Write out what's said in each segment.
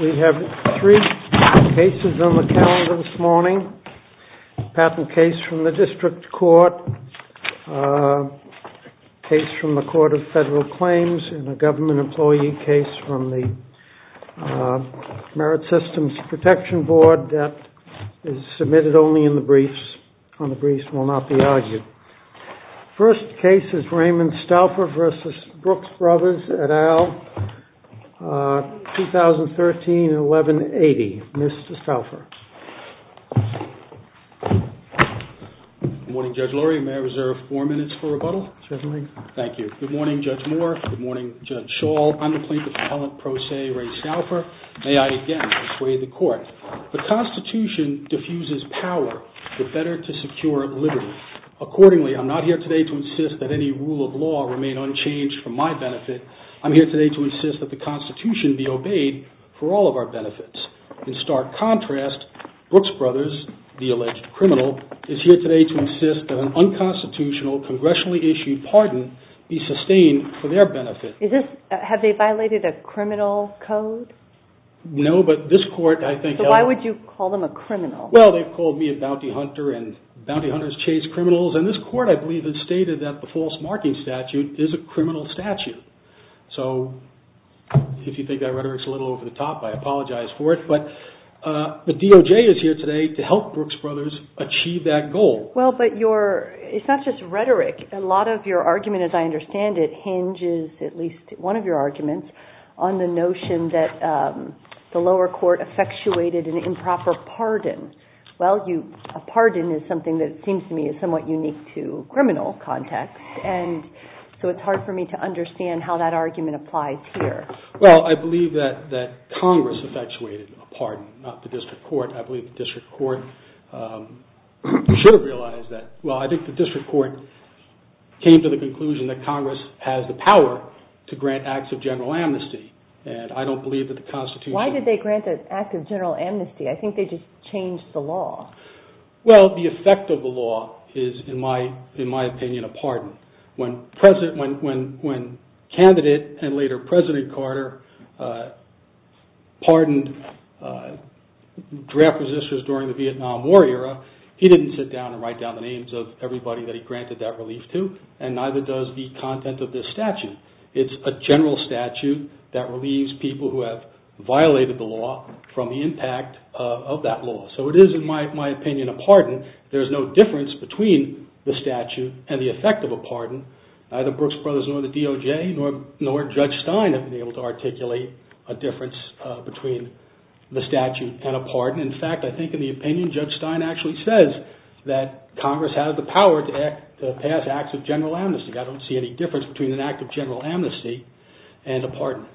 We have three cases on the calendar this morning, a patent case from the District Court, a case from the Court of Federal Claims, and a government employee case from the Merit Systems Protection Board that is submitted only in the briefs, and the briefs will not be argued. The first case is Raymond Stauffer v. Brooks Brothers, et al., 2013-11-80. Mr. Stauffer. Good morning, Judge Lurie. May I reserve four minutes for rebuttal? Certainly. Thank you. Good morning, Judge Moore. Good morning, Judge Schall. I'm the plaintiff's appellant pro se, Ray Stauffer. May I again dissuade the court? The Constitution diffuses power, the better to secure liberty. Accordingly, I'm not here today to insist that any rule of law remain unchanged for my benefit. I'm here today to insist that the Constitution be obeyed for all of our benefits. In stark contrast, Brooks Brothers, the alleged criminal, is here today to insist that an unconstitutional, congressionally issued pardon be sustained for their benefit. Is this, have they violated a criminal code? No, but this court, I think... So why would you call them a criminal? Well, they've called me a bounty hunter and bounty hunters chase criminals. And this court, I believe, has stated that the false marking statute is a criminal statute. So if you think that rhetoric's a little over the top, I apologize for it. But the DOJ is here today to help Brooks Brothers achieve that goal. Well, but your, it's not just rhetoric. A lot of your argument, as I understand it, hinges, at least one of your arguments, on the notion that the lower court effectuated an improper pardon. Well, a pardon is something that seems to me is somewhat unique to criminal context. And so it's hard for me to understand how that argument applies here. Well, I believe that Congress effectuated a pardon, not the district court. I believe the district court should have realized that. Well, I think the district court came to the conclusion that Congress has the power to grant acts of general amnesty. And I don't believe that the Constitution... Why did they grant the act of general amnesty? I think they just changed the law. Well, the effect of the law is, in my opinion, a pardon. When candidate and later President Carter pardoned draft resistors during the Vietnam War era, he didn't sit down and write down the names of everybody that he granted that relief to, and neither does the content of this statute. It's a general statute that relieves people who have violated the law from the impact of that law. So it is, in my opinion, a pardon. There's no difference between the statute and the effect of a pardon. Neither Brooks Brothers, nor the DOJ, nor Judge Stein have been able to articulate a difference between the statute and a pardon. In fact, I think in the opinion, Judge Stein actually says that Congress has the power to pass acts of general amnesty. I don't see any difference between an act of general amnesty and a pardon.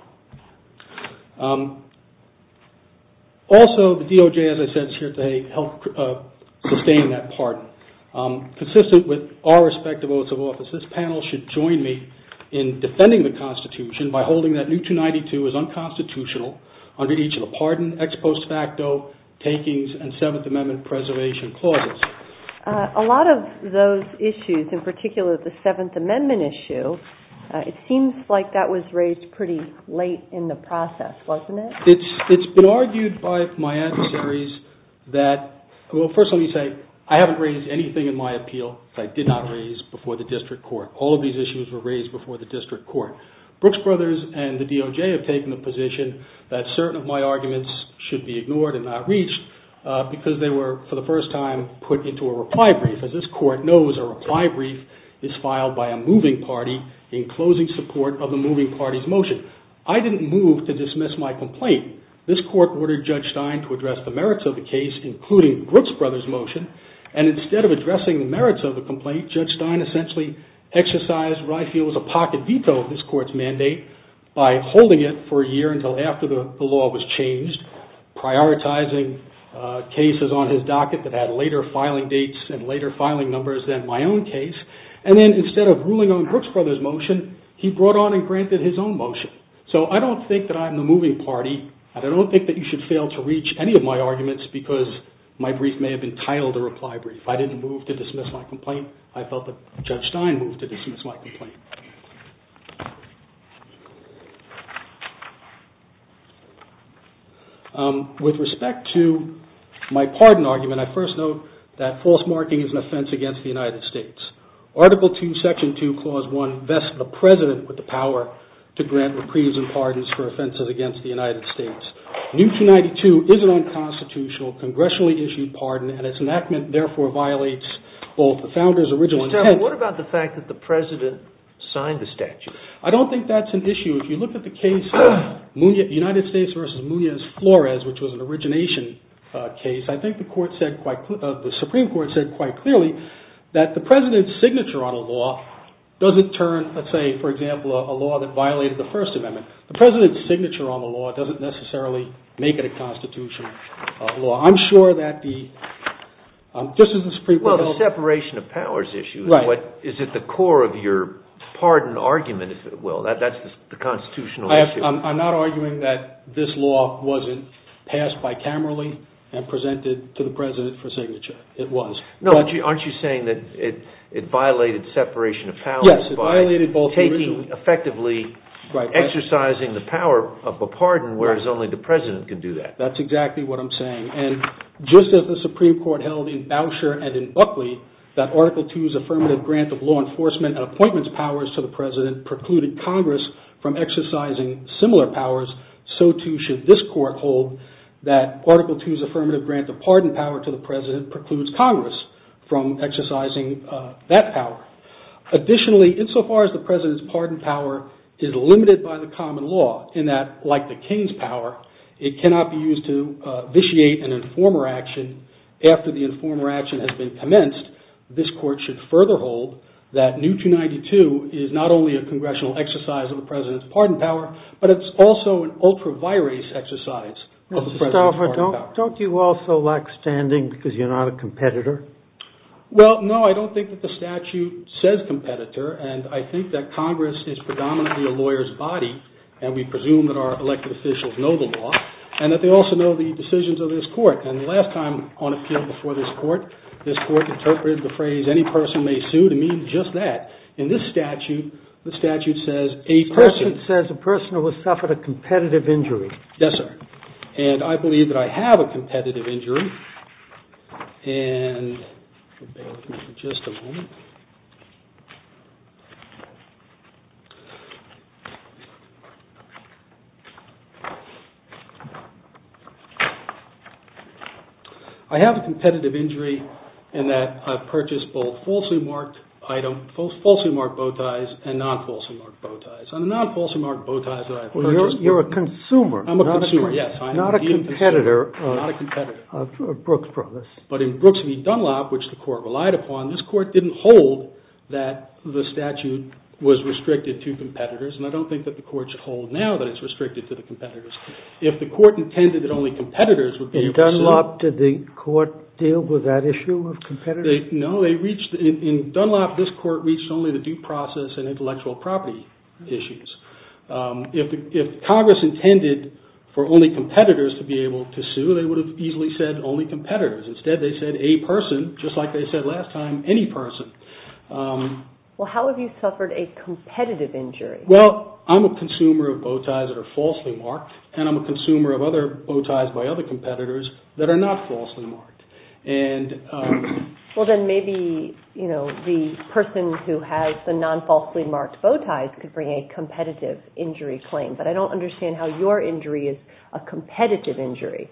Also, the DOJ, as I said, is here to help sustain that pardon. Consistent with our respective oaths of office, this panel should join me in defending the Constitution by holding that New 292 is unconstitutional under each of the pardon, ex post facto, takings, and Seventh Amendment preservation clauses. A lot of those issues, in particular the Seventh Amendment issue, it seems like that was raised pretty late in the process, wasn't it? It's been argued by my adversaries that, well, first let me say, I haven't raised anything in my appeal that I did not raise before the district court. All of these issues were raised before the district court. Brooks Brothers and the DOJ have taken the position that certain of my arguments should be ignored and not reached because they were, for the first time, put into a reply brief. As this court knows, a reply brief is filed by a moving party in closing support of the moving party's motion. I didn't move to dismiss my complaint. This court ordered Judge Stein to address the merits of the case, including Brooks Brothers' motion, and instead of addressing the merits of the complaint, Judge Stein essentially exercised what I feel was a pocket veto of this court's mandate by holding it for a year until after the law was changed, prioritizing cases on his docket that had later filing dates and later filing numbers than my own case. And then instead of ruling on Brooks Brothers' motion, he brought on and granted his own motion. So I don't think that I'm the moving party, and I don't think that you should fail to reach any of my arguments because my brief may have been titled a reply brief. I didn't move to dismiss my complaint. I felt that Judge Stein moved to dismiss my complaint. With respect to my pardon argument, I first note that false marking is an offense against the United States. Article 2, Section 2, Clause 1 vests the President with the power to grant reprieves and pardons for offenses against the United States. New 292 is an unconstitutional, congressionally issued pardon, and its enactment therefore violates both the Founder's original intent— Mr. Talbot, what about the fact that the President signed the statute? I don't think that's an issue. If you look at the case of the United States v. Munoz-Flores, which was an origination case, I think the Supreme Court said quite clearly that the President's signature on a law doesn't turn, let's say, for example, a law that violated the First Amendment. The President's signature on the law doesn't necessarily make it a constitutional law. I'm sure that the— Mr. Talbot Well, the separation of powers issue is at the core of your pardon argument, if it will. That's the constitutional issue. Mr. Eberle I'm not arguing that this law wasn't passed bicamerally and presented to the President for signature. It was. Mr. Talbot No, aren't you saying that it violated separation of powers by taking, effectively exercising the power of a pardon, whereas only the President can do that? Mr. Eberle That's exactly what I'm saying. And just as the Supreme Court held in Boucher and in Buckley that Article 2's affirmative grant of law enforcement and appointments powers to the President precluded Congress from exercising similar powers, so too should this Court hold that Article 2's affirmative grant of pardon power to the President precludes Congress from exercising that power. Additionally, insofar as the President's pardon power is limited by the common law, in that, like the King's power, it cannot be used to vitiate an informer action after the that New 292 is not only a congressional exercise of the President's pardon power, but it's also an ultra-virus exercise of the President's pardon power. Mr. Talbot, don't you also lack standing because you're not a competitor? Mr. Talbot Well, no, I don't think that the statute says competitor. And I think that Congress is predominantly a lawyer's body, and we presume that our elected officials know the law, and that they also know the decisions of this Court. And the last time on a field before this Court, this Court interpreted the phrase, any person may sue, to mean just that. In this statute, the statute says, a person... Mr. Gould A person says a person who has suffered a competitive injury. Mr. Talbot Yes, sir. And I believe that I have a competitive injury. And bear with me for just a moment. I have a competitive injury in that I've purchased both falsely marked item, falsely marked bow ties, and non-falsely marked bow ties. On the non-falsely marked bow ties that I've purchased... Mr. Gould You're a consumer, not a competitor. Mr. Talbot I'm a consumer, yes. I'm a consumer. Mr. Gould Not a competitor of Brooks Brothers. Mr. Talbot But in Brooks v. Dunlop, which the Court relied upon, this Court didn't hold that the statute was restricted to competitors. And I don't think that the Court should hold now that it's restricted to the competitors. If the Court intended that only competitors would be able to sue... Mr. Gould In Dunlop, did the Court deal with that issue of competitors? Mr. Talbot No, they reached... In Dunlop, this Court reached only the due process and intellectual property issues. If Congress intended for only competitors to be able to sue, they would have easily said only competitors. Instead, they said a person, just like they said last time, any person. Ms. Baird Well, how have you suffered a competitive injury? Mr. Talbot Well, I'm a consumer of bow ties that are falsely marked, and I'm a consumer of other bow ties by other competitors that are not falsely marked. Ms. Baird Well, then maybe the person who has the non-falsely marked bow ties could bring a competitive injury claim, but I don't understand how your injury is a competitive injury.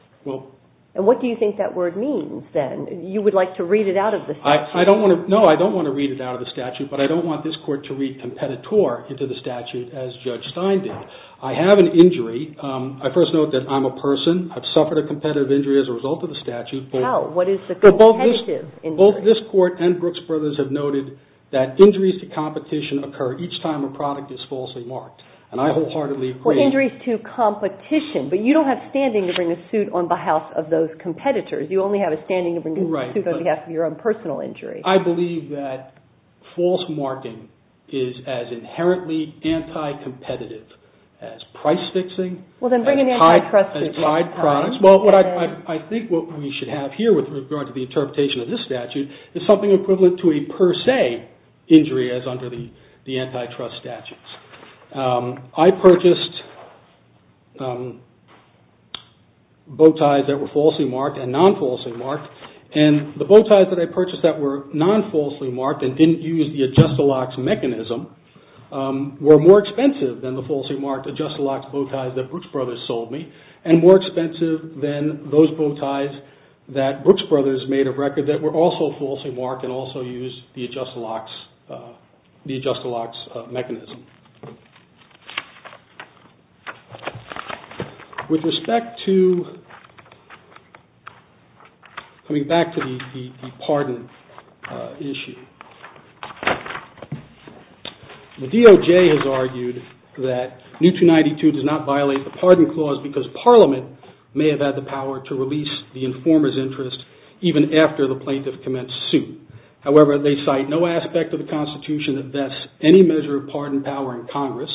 And what do you think that word means, then? You would like to read it out of the statute? Mr. Talbot No, I don't want to read it out of the statute, but I don't want this Court to read competitor into the statute as Judge Stein did. I have an injury. I first note that I'm a person. I've suffered a competitive injury as a result of the statute. Ms. Baird How? What is the competitive injury? Mr. Talbot Both this Court and Brooks Brothers have noted that injuries to competition occur each time a product is falsely marked, and I wholeheartedly agree... Ms. Baird For injuries to competition, but you don't have standing to bring a suit on behalf of those competitors. You only have a standing to bring a suit on behalf of your own personal injury. Mr. Talbot I believe that false marking is as inherently anti-competitive as price fixing... Ms. Baird Well, then bring an antitrust injury. Mr. Talbot ...as tied products. Well, I think what we should have here with regard to the interpretation of this statute is something equivalent to a per se injury as under the antitrust statutes. I purchased bow ties that were falsely marked and non-falsely marked, and the bow ties that I purchased that were non-falsely marked and didn't use the adjust-a-locks mechanism were more expensive than the falsely marked adjust-a-locks bow ties that Brooks Brothers sold me, and more expensive than those bow ties that Brooks Brothers made of record that were also falsely marked under the adjust-a-locks mechanism. With respect to coming back to the pardon issue, the DOJ has argued that New 292 does not violate the pardon clause because Parliament may have had the power to release the informer's interest even after the plaintiff commenced suit. However, they cite no aspect of the Constitution that vests any measure of pardon power in Congress,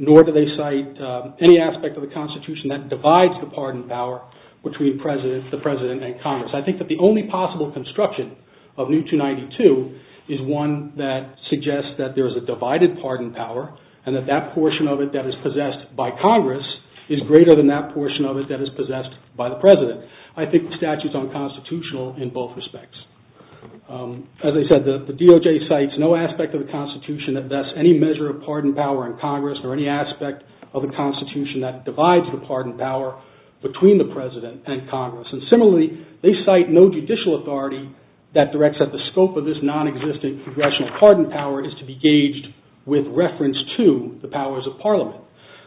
nor do they cite any aspect of the Constitution that divides the pardon power between the President and Congress. I think that the only possible construction of New 292 is one that suggests that there is a divided pardon power and that that portion of it that is possessed by Congress is greater than that portion of it that is possessed by the President. I think the statute is unconstitutional in both respects. As I said, the DOJ cites no aspect of the Constitution that vests any measure of pardon power in Congress, nor any aspect of the Constitution that divides the pardon power between the President and Congress. And similarly, they cite no judicial authority that directs that the scope of this non-existent congressional pardon power is to be gauged with reference to the powers of Parliament.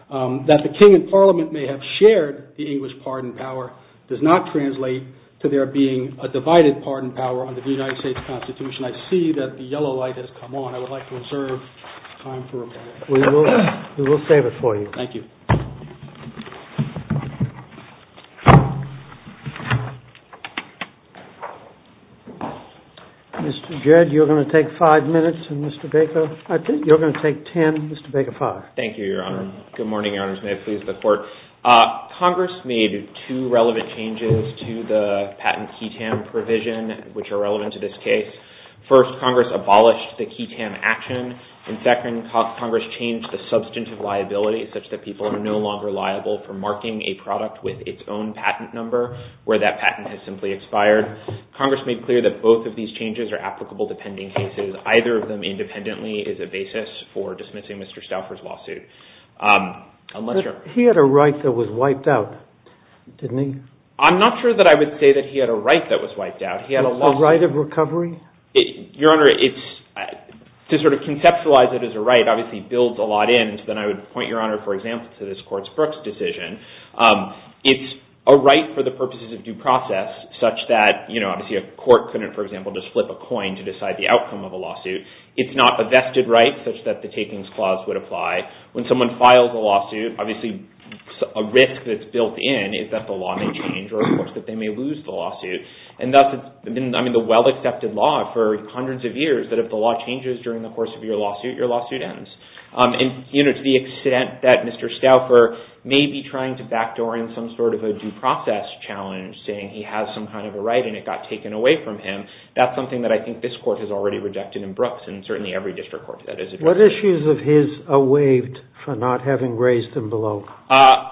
That the King and Parliament may have shared the English pardon power does not translate to there being a divided pardon power under the United States Constitution. I see that the yellow light has come on. I would like to reserve time for rebuttal. We will save it for you. Thank you. Mr. Jed, you're going to take five minutes, and Mr. Baker, I think you're going to take 10. Mr. Baker, five. Good morning, Your Honors. May it please the Court. Congress made two relevant changes to the patent QI-TAM provision, which are relevant to this case. First, Congress abolished the QI-TAM action. And second, Congress changed the substantive liability such that people are no longer liable for marking a product with its own patent number, where that patent has simply expired. Congress made clear that both of these changes are applicable to pending cases. Either of them independently is a basis for dismissing Mr. Stauffer's lawsuit. But he had a right that was wiped out, didn't he? I'm not sure that I would say that he had a right that was wiped out. He had a law— A right of recovery? Your Honor, to sort of conceptualize it as a right obviously builds a lot in, and so then I would point, Your Honor, for example, to this Court's Brooks decision. It's a right for the purposes of due process such that, you know, obviously a court couldn't, for example, just flip a coin to decide the outcome of a lawsuit. It's not a vested right such that the takings clause would apply. When someone files a lawsuit, obviously a risk that's built in is that the law may change or, of course, that they may lose the lawsuit. And that's been, I mean, the well-accepted law for hundreds of years, that if the law changes during the course of your lawsuit, your lawsuit ends. And, you know, to the extent that Mr. Stauffer may be trying to backdoor in some sort of a due process challenge, saying he has some kind of a right and it got taken away from him, that's something that I think this Court has already rejected in Brooks, and certainly every district court that has— What issues of his are waived for not having raised them below?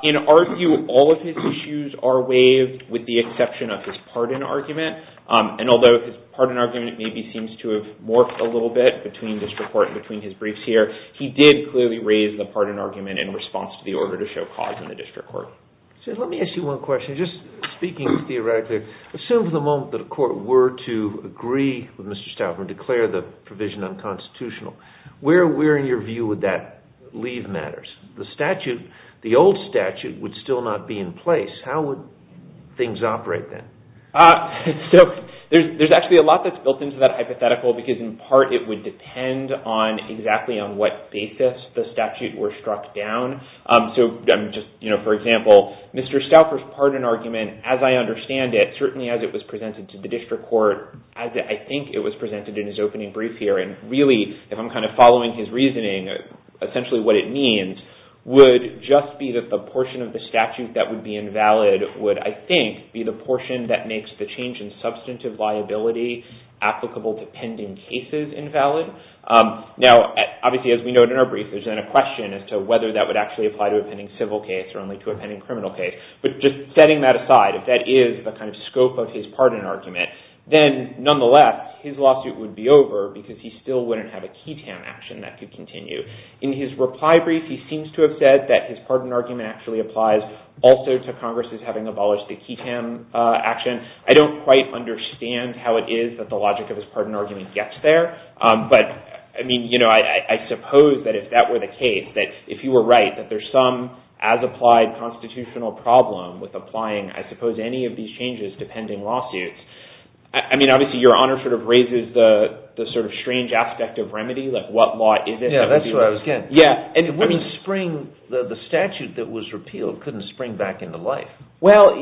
In our view, all of his issues are waived with the exception of his pardon argument. And although his pardon argument maybe seems to have morphed a little bit between district court and between his briefs here, he did clearly raise the pardon argument in response to the order to show cause in the district court. So let me ask you one question. Just speaking theoretically, assume for the moment that a court were to agree with Mr. Stauffer's decision on constitutional, where in your view would that leave matters? The statute, the old statute, would still not be in place. How would things operate then? So there's actually a lot that's built into that hypothetical because in part it would depend on exactly on what basis the statute were struck down. So just, you know, for example, Mr. Stauffer's pardon argument, as I understand it, certainly as it was presented to the district court, as I think it was presented in his opening brief here, and really if I'm kind of following his reasoning, essentially what it means would just be that the portion of the statute that would be invalid would, I think, be the portion that makes the change in substantive liability applicable to pending cases invalid. Now, obviously, as we noted in our brief, there's then a question as to whether that would actually apply to a pending civil case or only to a pending criminal case. But just setting that aside, if that is the kind of scope of his pardon argument, then he still wouldn't have a KETAM action that could continue. In his reply brief, he seems to have said that his pardon argument actually applies also to Congress's having abolished the KETAM action. I don't quite understand how it is that the logic of his pardon argument gets there. But, I mean, you know, I suppose that if that were the case, that if you were right, that there's some as-applied constitutional problem with applying, I suppose, any of these changes to pending lawsuits. I mean, obviously, your Honor sort of raises the sort of strange aspect of remedy, like what law is it that would be right? Yeah, that's what I was getting at. Yeah, and I mean— It wouldn't spring—the statute that was repealed couldn't spring back into life. Well,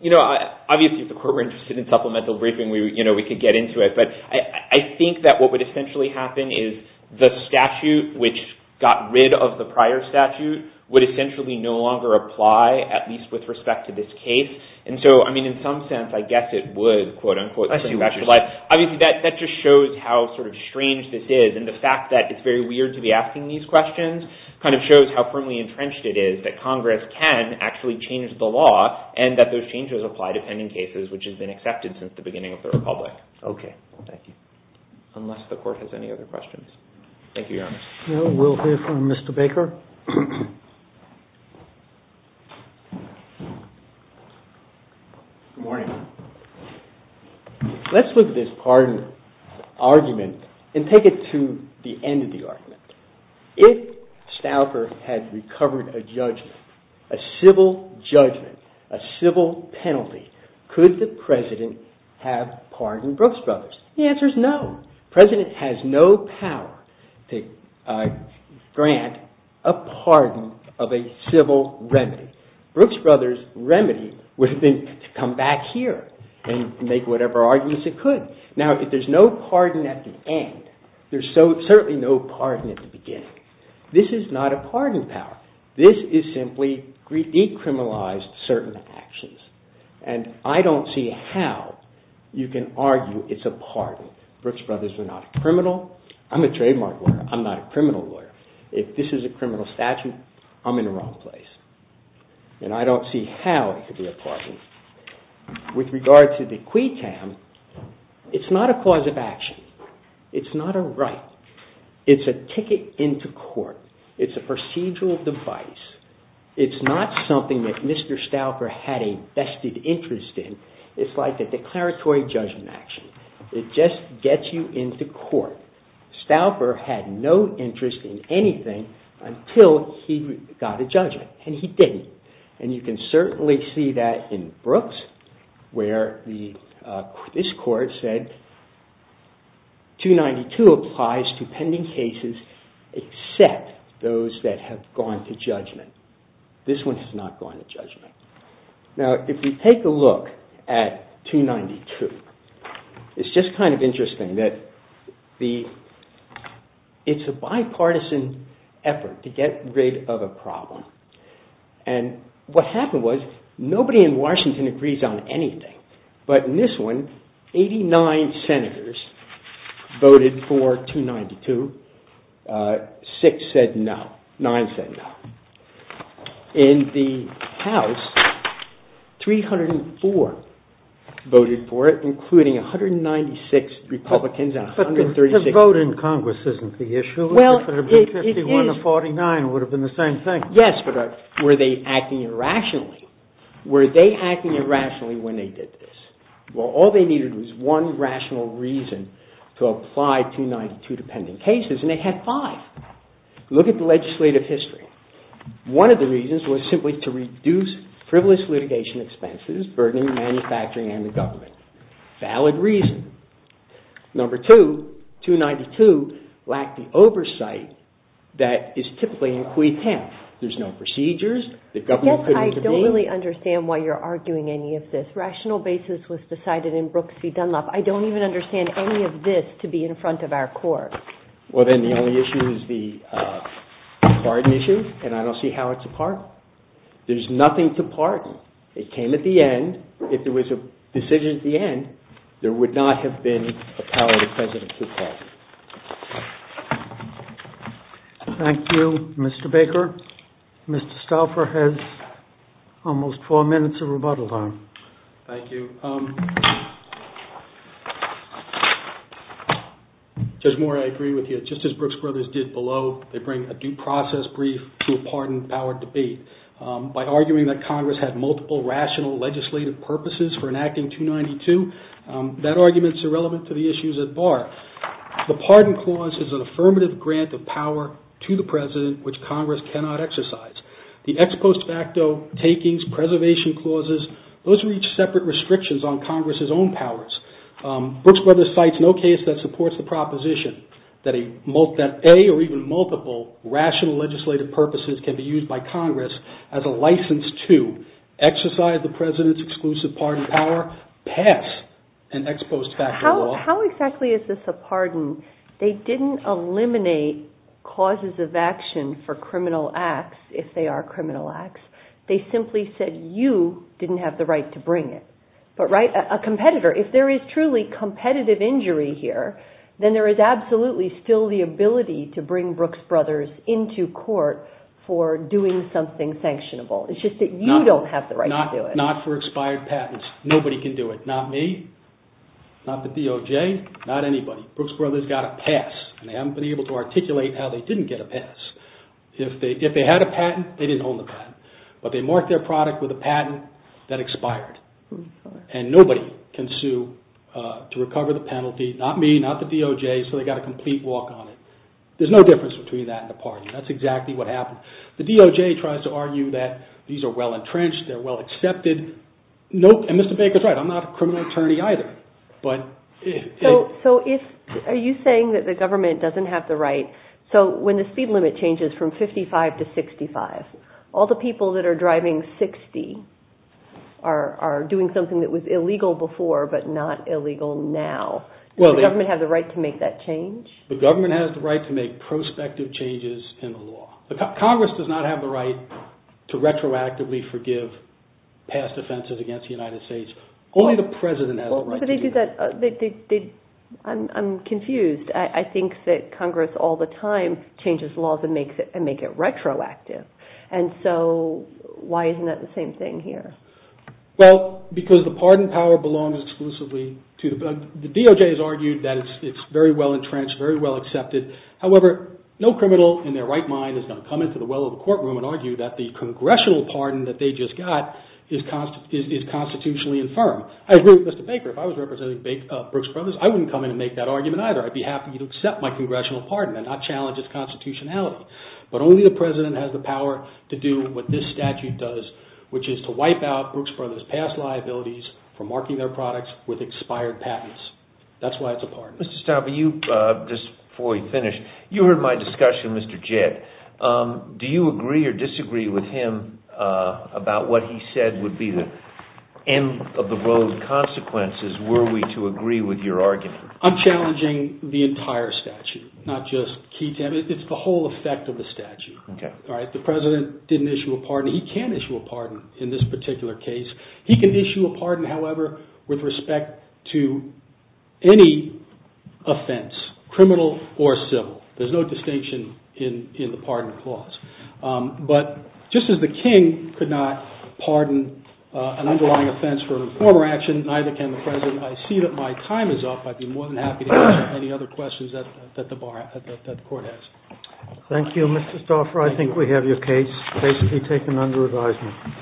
you know, obviously, if the Court were interested in supplemental briefing, we could get into it. But I think that what would essentially happen is the statute, which got rid of the prior statute, would essentially no longer apply, at least with respect to this case. And so, I mean, in some sense, I guess it would, quote, unquote, spring back to life. Obviously, that just shows how sort of strange this is. And the fact that it's very weird to be asking these questions kind of shows how firmly entrenched it is that Congress can actually change the law and that those changes apply to pending cases, which has been accepted since the beginning of the Republic. Okay. Thank you. Unless the Court has any other questions. Thank you, Your Honor. No, we'll hear from Mr. Baker. Good morning. Let's look at this pardon argument and take it to the end of the argument. If Stauffer had recovered a judgment, a civil judgment, a civil penalty, could the President have pardoned Brooks Brothers? The answer is no. President has no power to grant a pardon of a civil remedy. Brooks Brothers' remedy would have been to come back here and make whatever arguments it could. Now, if there's no pardon at the end, there's certainly no pardon at the beginning. This is not a pardon power. This is simply decriminalized certain actions. And I don't see how you can argue it's a pardon. Brooks Brothers were not a criminal. I'm a trademark lawyer. I'm not a criminal lawyer. If this is a criminal statute, I'm in the wrong place. And I don't see how it could be a pardon. With regard to the quid cam, it's not a cause of action. It's not a right. It's a ticket into court. It's a procedural device. It's not something that Mr. Stauffer had a vested interest in. It's like a declaratory judgment action. It just gets you into court. Stauffer had no interest in anything until he got a judgment, and he didn't. And you can certainly see that in Brooks, where this court said, 292 applies to pending cases except those that have gone to judgment. This one has not gone to judgment. Now, if we take a look at 292, it's just kind of interesting that it's a bipartisan effort to get rid of a problem. And what happened was, nobody in Washington agrees on anything. But in this one, 89 senators voted for 292. Six said no. Nine said no. In the House, 304 voted for it, including 196 Republicans and 136 Republicans. But the vote in Congress isn't the issue. Well, it is. If it had been 51 or 49, it would have been the same thing. Yes, but were they acting irrationally? Were they acting irrationally when they did this? Well, all they needed was one rational reason to apply 292 to pending cases, and they had five. Look at the legislative history. One of the reasons was simply to reduce frivolous litigation expenses, burdening manufacturing and the government. Valid reason. Number two, 292 lacked the oversight that is typically in quid temps. There's no procedures. The government couldn't intervene. Yes, I don't really understand why you're arguing any of this. Rational basis was decided in Brooks v. Dunlop. I don't even understand any of this to be in front of our courts. Well, then the only issue is the pardon issue, and I don't see how it's a part. There's nothing to pardon. It came at the end. If it was a decision at the end, there would not have been a power to President Kudlow. Thank you, Mr. Baker. Mr. Stauffer has almost four minutes of rebuttal time. Thank you. Judge Moore, I agree with you. Just as Brooks Brothers did below, they bring a due process brief to a pardon-powered debate. By arguing that Congress had multiple rational legislative purposes for enacting 292, that argument's irrelevant to the issues at bar. The pardon clause is an affirmative grant of power to the President, which Congress cannot exercise. The ex post facto takings, preservation clauses, those reach separate restrictions on Congress's own powers. Brooks Brothers cites no case that supports the proposition that a or even multiple rational legislative purposes can be used by Congress as a license to exercise the President's exclusive pardon power, pass an ex post facto law. How exactly is this a pardon? They didn't eliminate causes of action for criminal acts, if they are criminal acts. They simply said you didn't have the right to bring it. But a competitor, if there is truly competitive injury here, then there is absolutely still the ability to bring Brooks Brothers into court for doing something sanctionable. It's just that you don't have the right to do it. Not for expired patents. Nobody can do it. Not me. Not the DOJ. Not anybody. Brooks Brothers got a pass. And they haven't been able to articulate how they didn't get a pass. If they had a patent, they didn't own the patent. But they marked their product with a patent that expired. And nobody can sue to recover the penalty. Not me, not the DOJ. So they got a complete walk on it. There's no difference between that and a pardon. That's exactly what happened. The DOJ tries to argue that these are well entrenched, they're well accepted. Nope. And Mr. Baker's right. I'm not a criminal attorney. But... So are you saying that the government doesn't have the right... So when the speed limit changes from 55 to 65, all the people that are driving 60 are doing something that was illegal before, but not illegal now. Does the government have the right to make that change? The government has the right to make prospective changes in the law. Congress does not have the right to retroactively forgive past offenses against the United States. Only the president has the right to do that. I'm confused. I think that Congress all the time changes laws and makes it retroactive. And so why isn't that the same thing here? Well, because the pardon power belongs exclusively to the... The DOJ has argued that it's very well entrenched, very well accepted. However, no criminal in their right mind is going to come into the well of the courtroom and argue that the congressional pardon that they just got is constitutionally infirm. I agree with Mr. Baker. If I was representing Brooks Brothers, I wouldn't come in and make that argument either. I'd be happy to accept my congressional pardon and not challenge its constitutionality. But only the president has the power to do what this statute does, which is to wipe out Brooks Brothers past liabilities for marking their products with expired patents. That's why it's a pardon. Mr. Stauber, just before we finish, you heard my discussion with Mr. Jett. Do you agree or disagree with him about what he said would be the end of the road consequences? Were we to agree with your argument? I'm challenging the entire statute, not just key... It's the whole effect of the statute. The president didn't issue a pardon. He can issue a pardon in this particular case. He can issue a pardon, however, with respect to any offense, criminal or civil. There's no distinction in the pardon clause. But just as the king could not pardon an underlying offense for a former action, neither can the president. I see that my time is up. I'd be more than happy to answer any other questions that the court has. Thank you, Mr. Stauber. I think we have your case basically taken under advisement.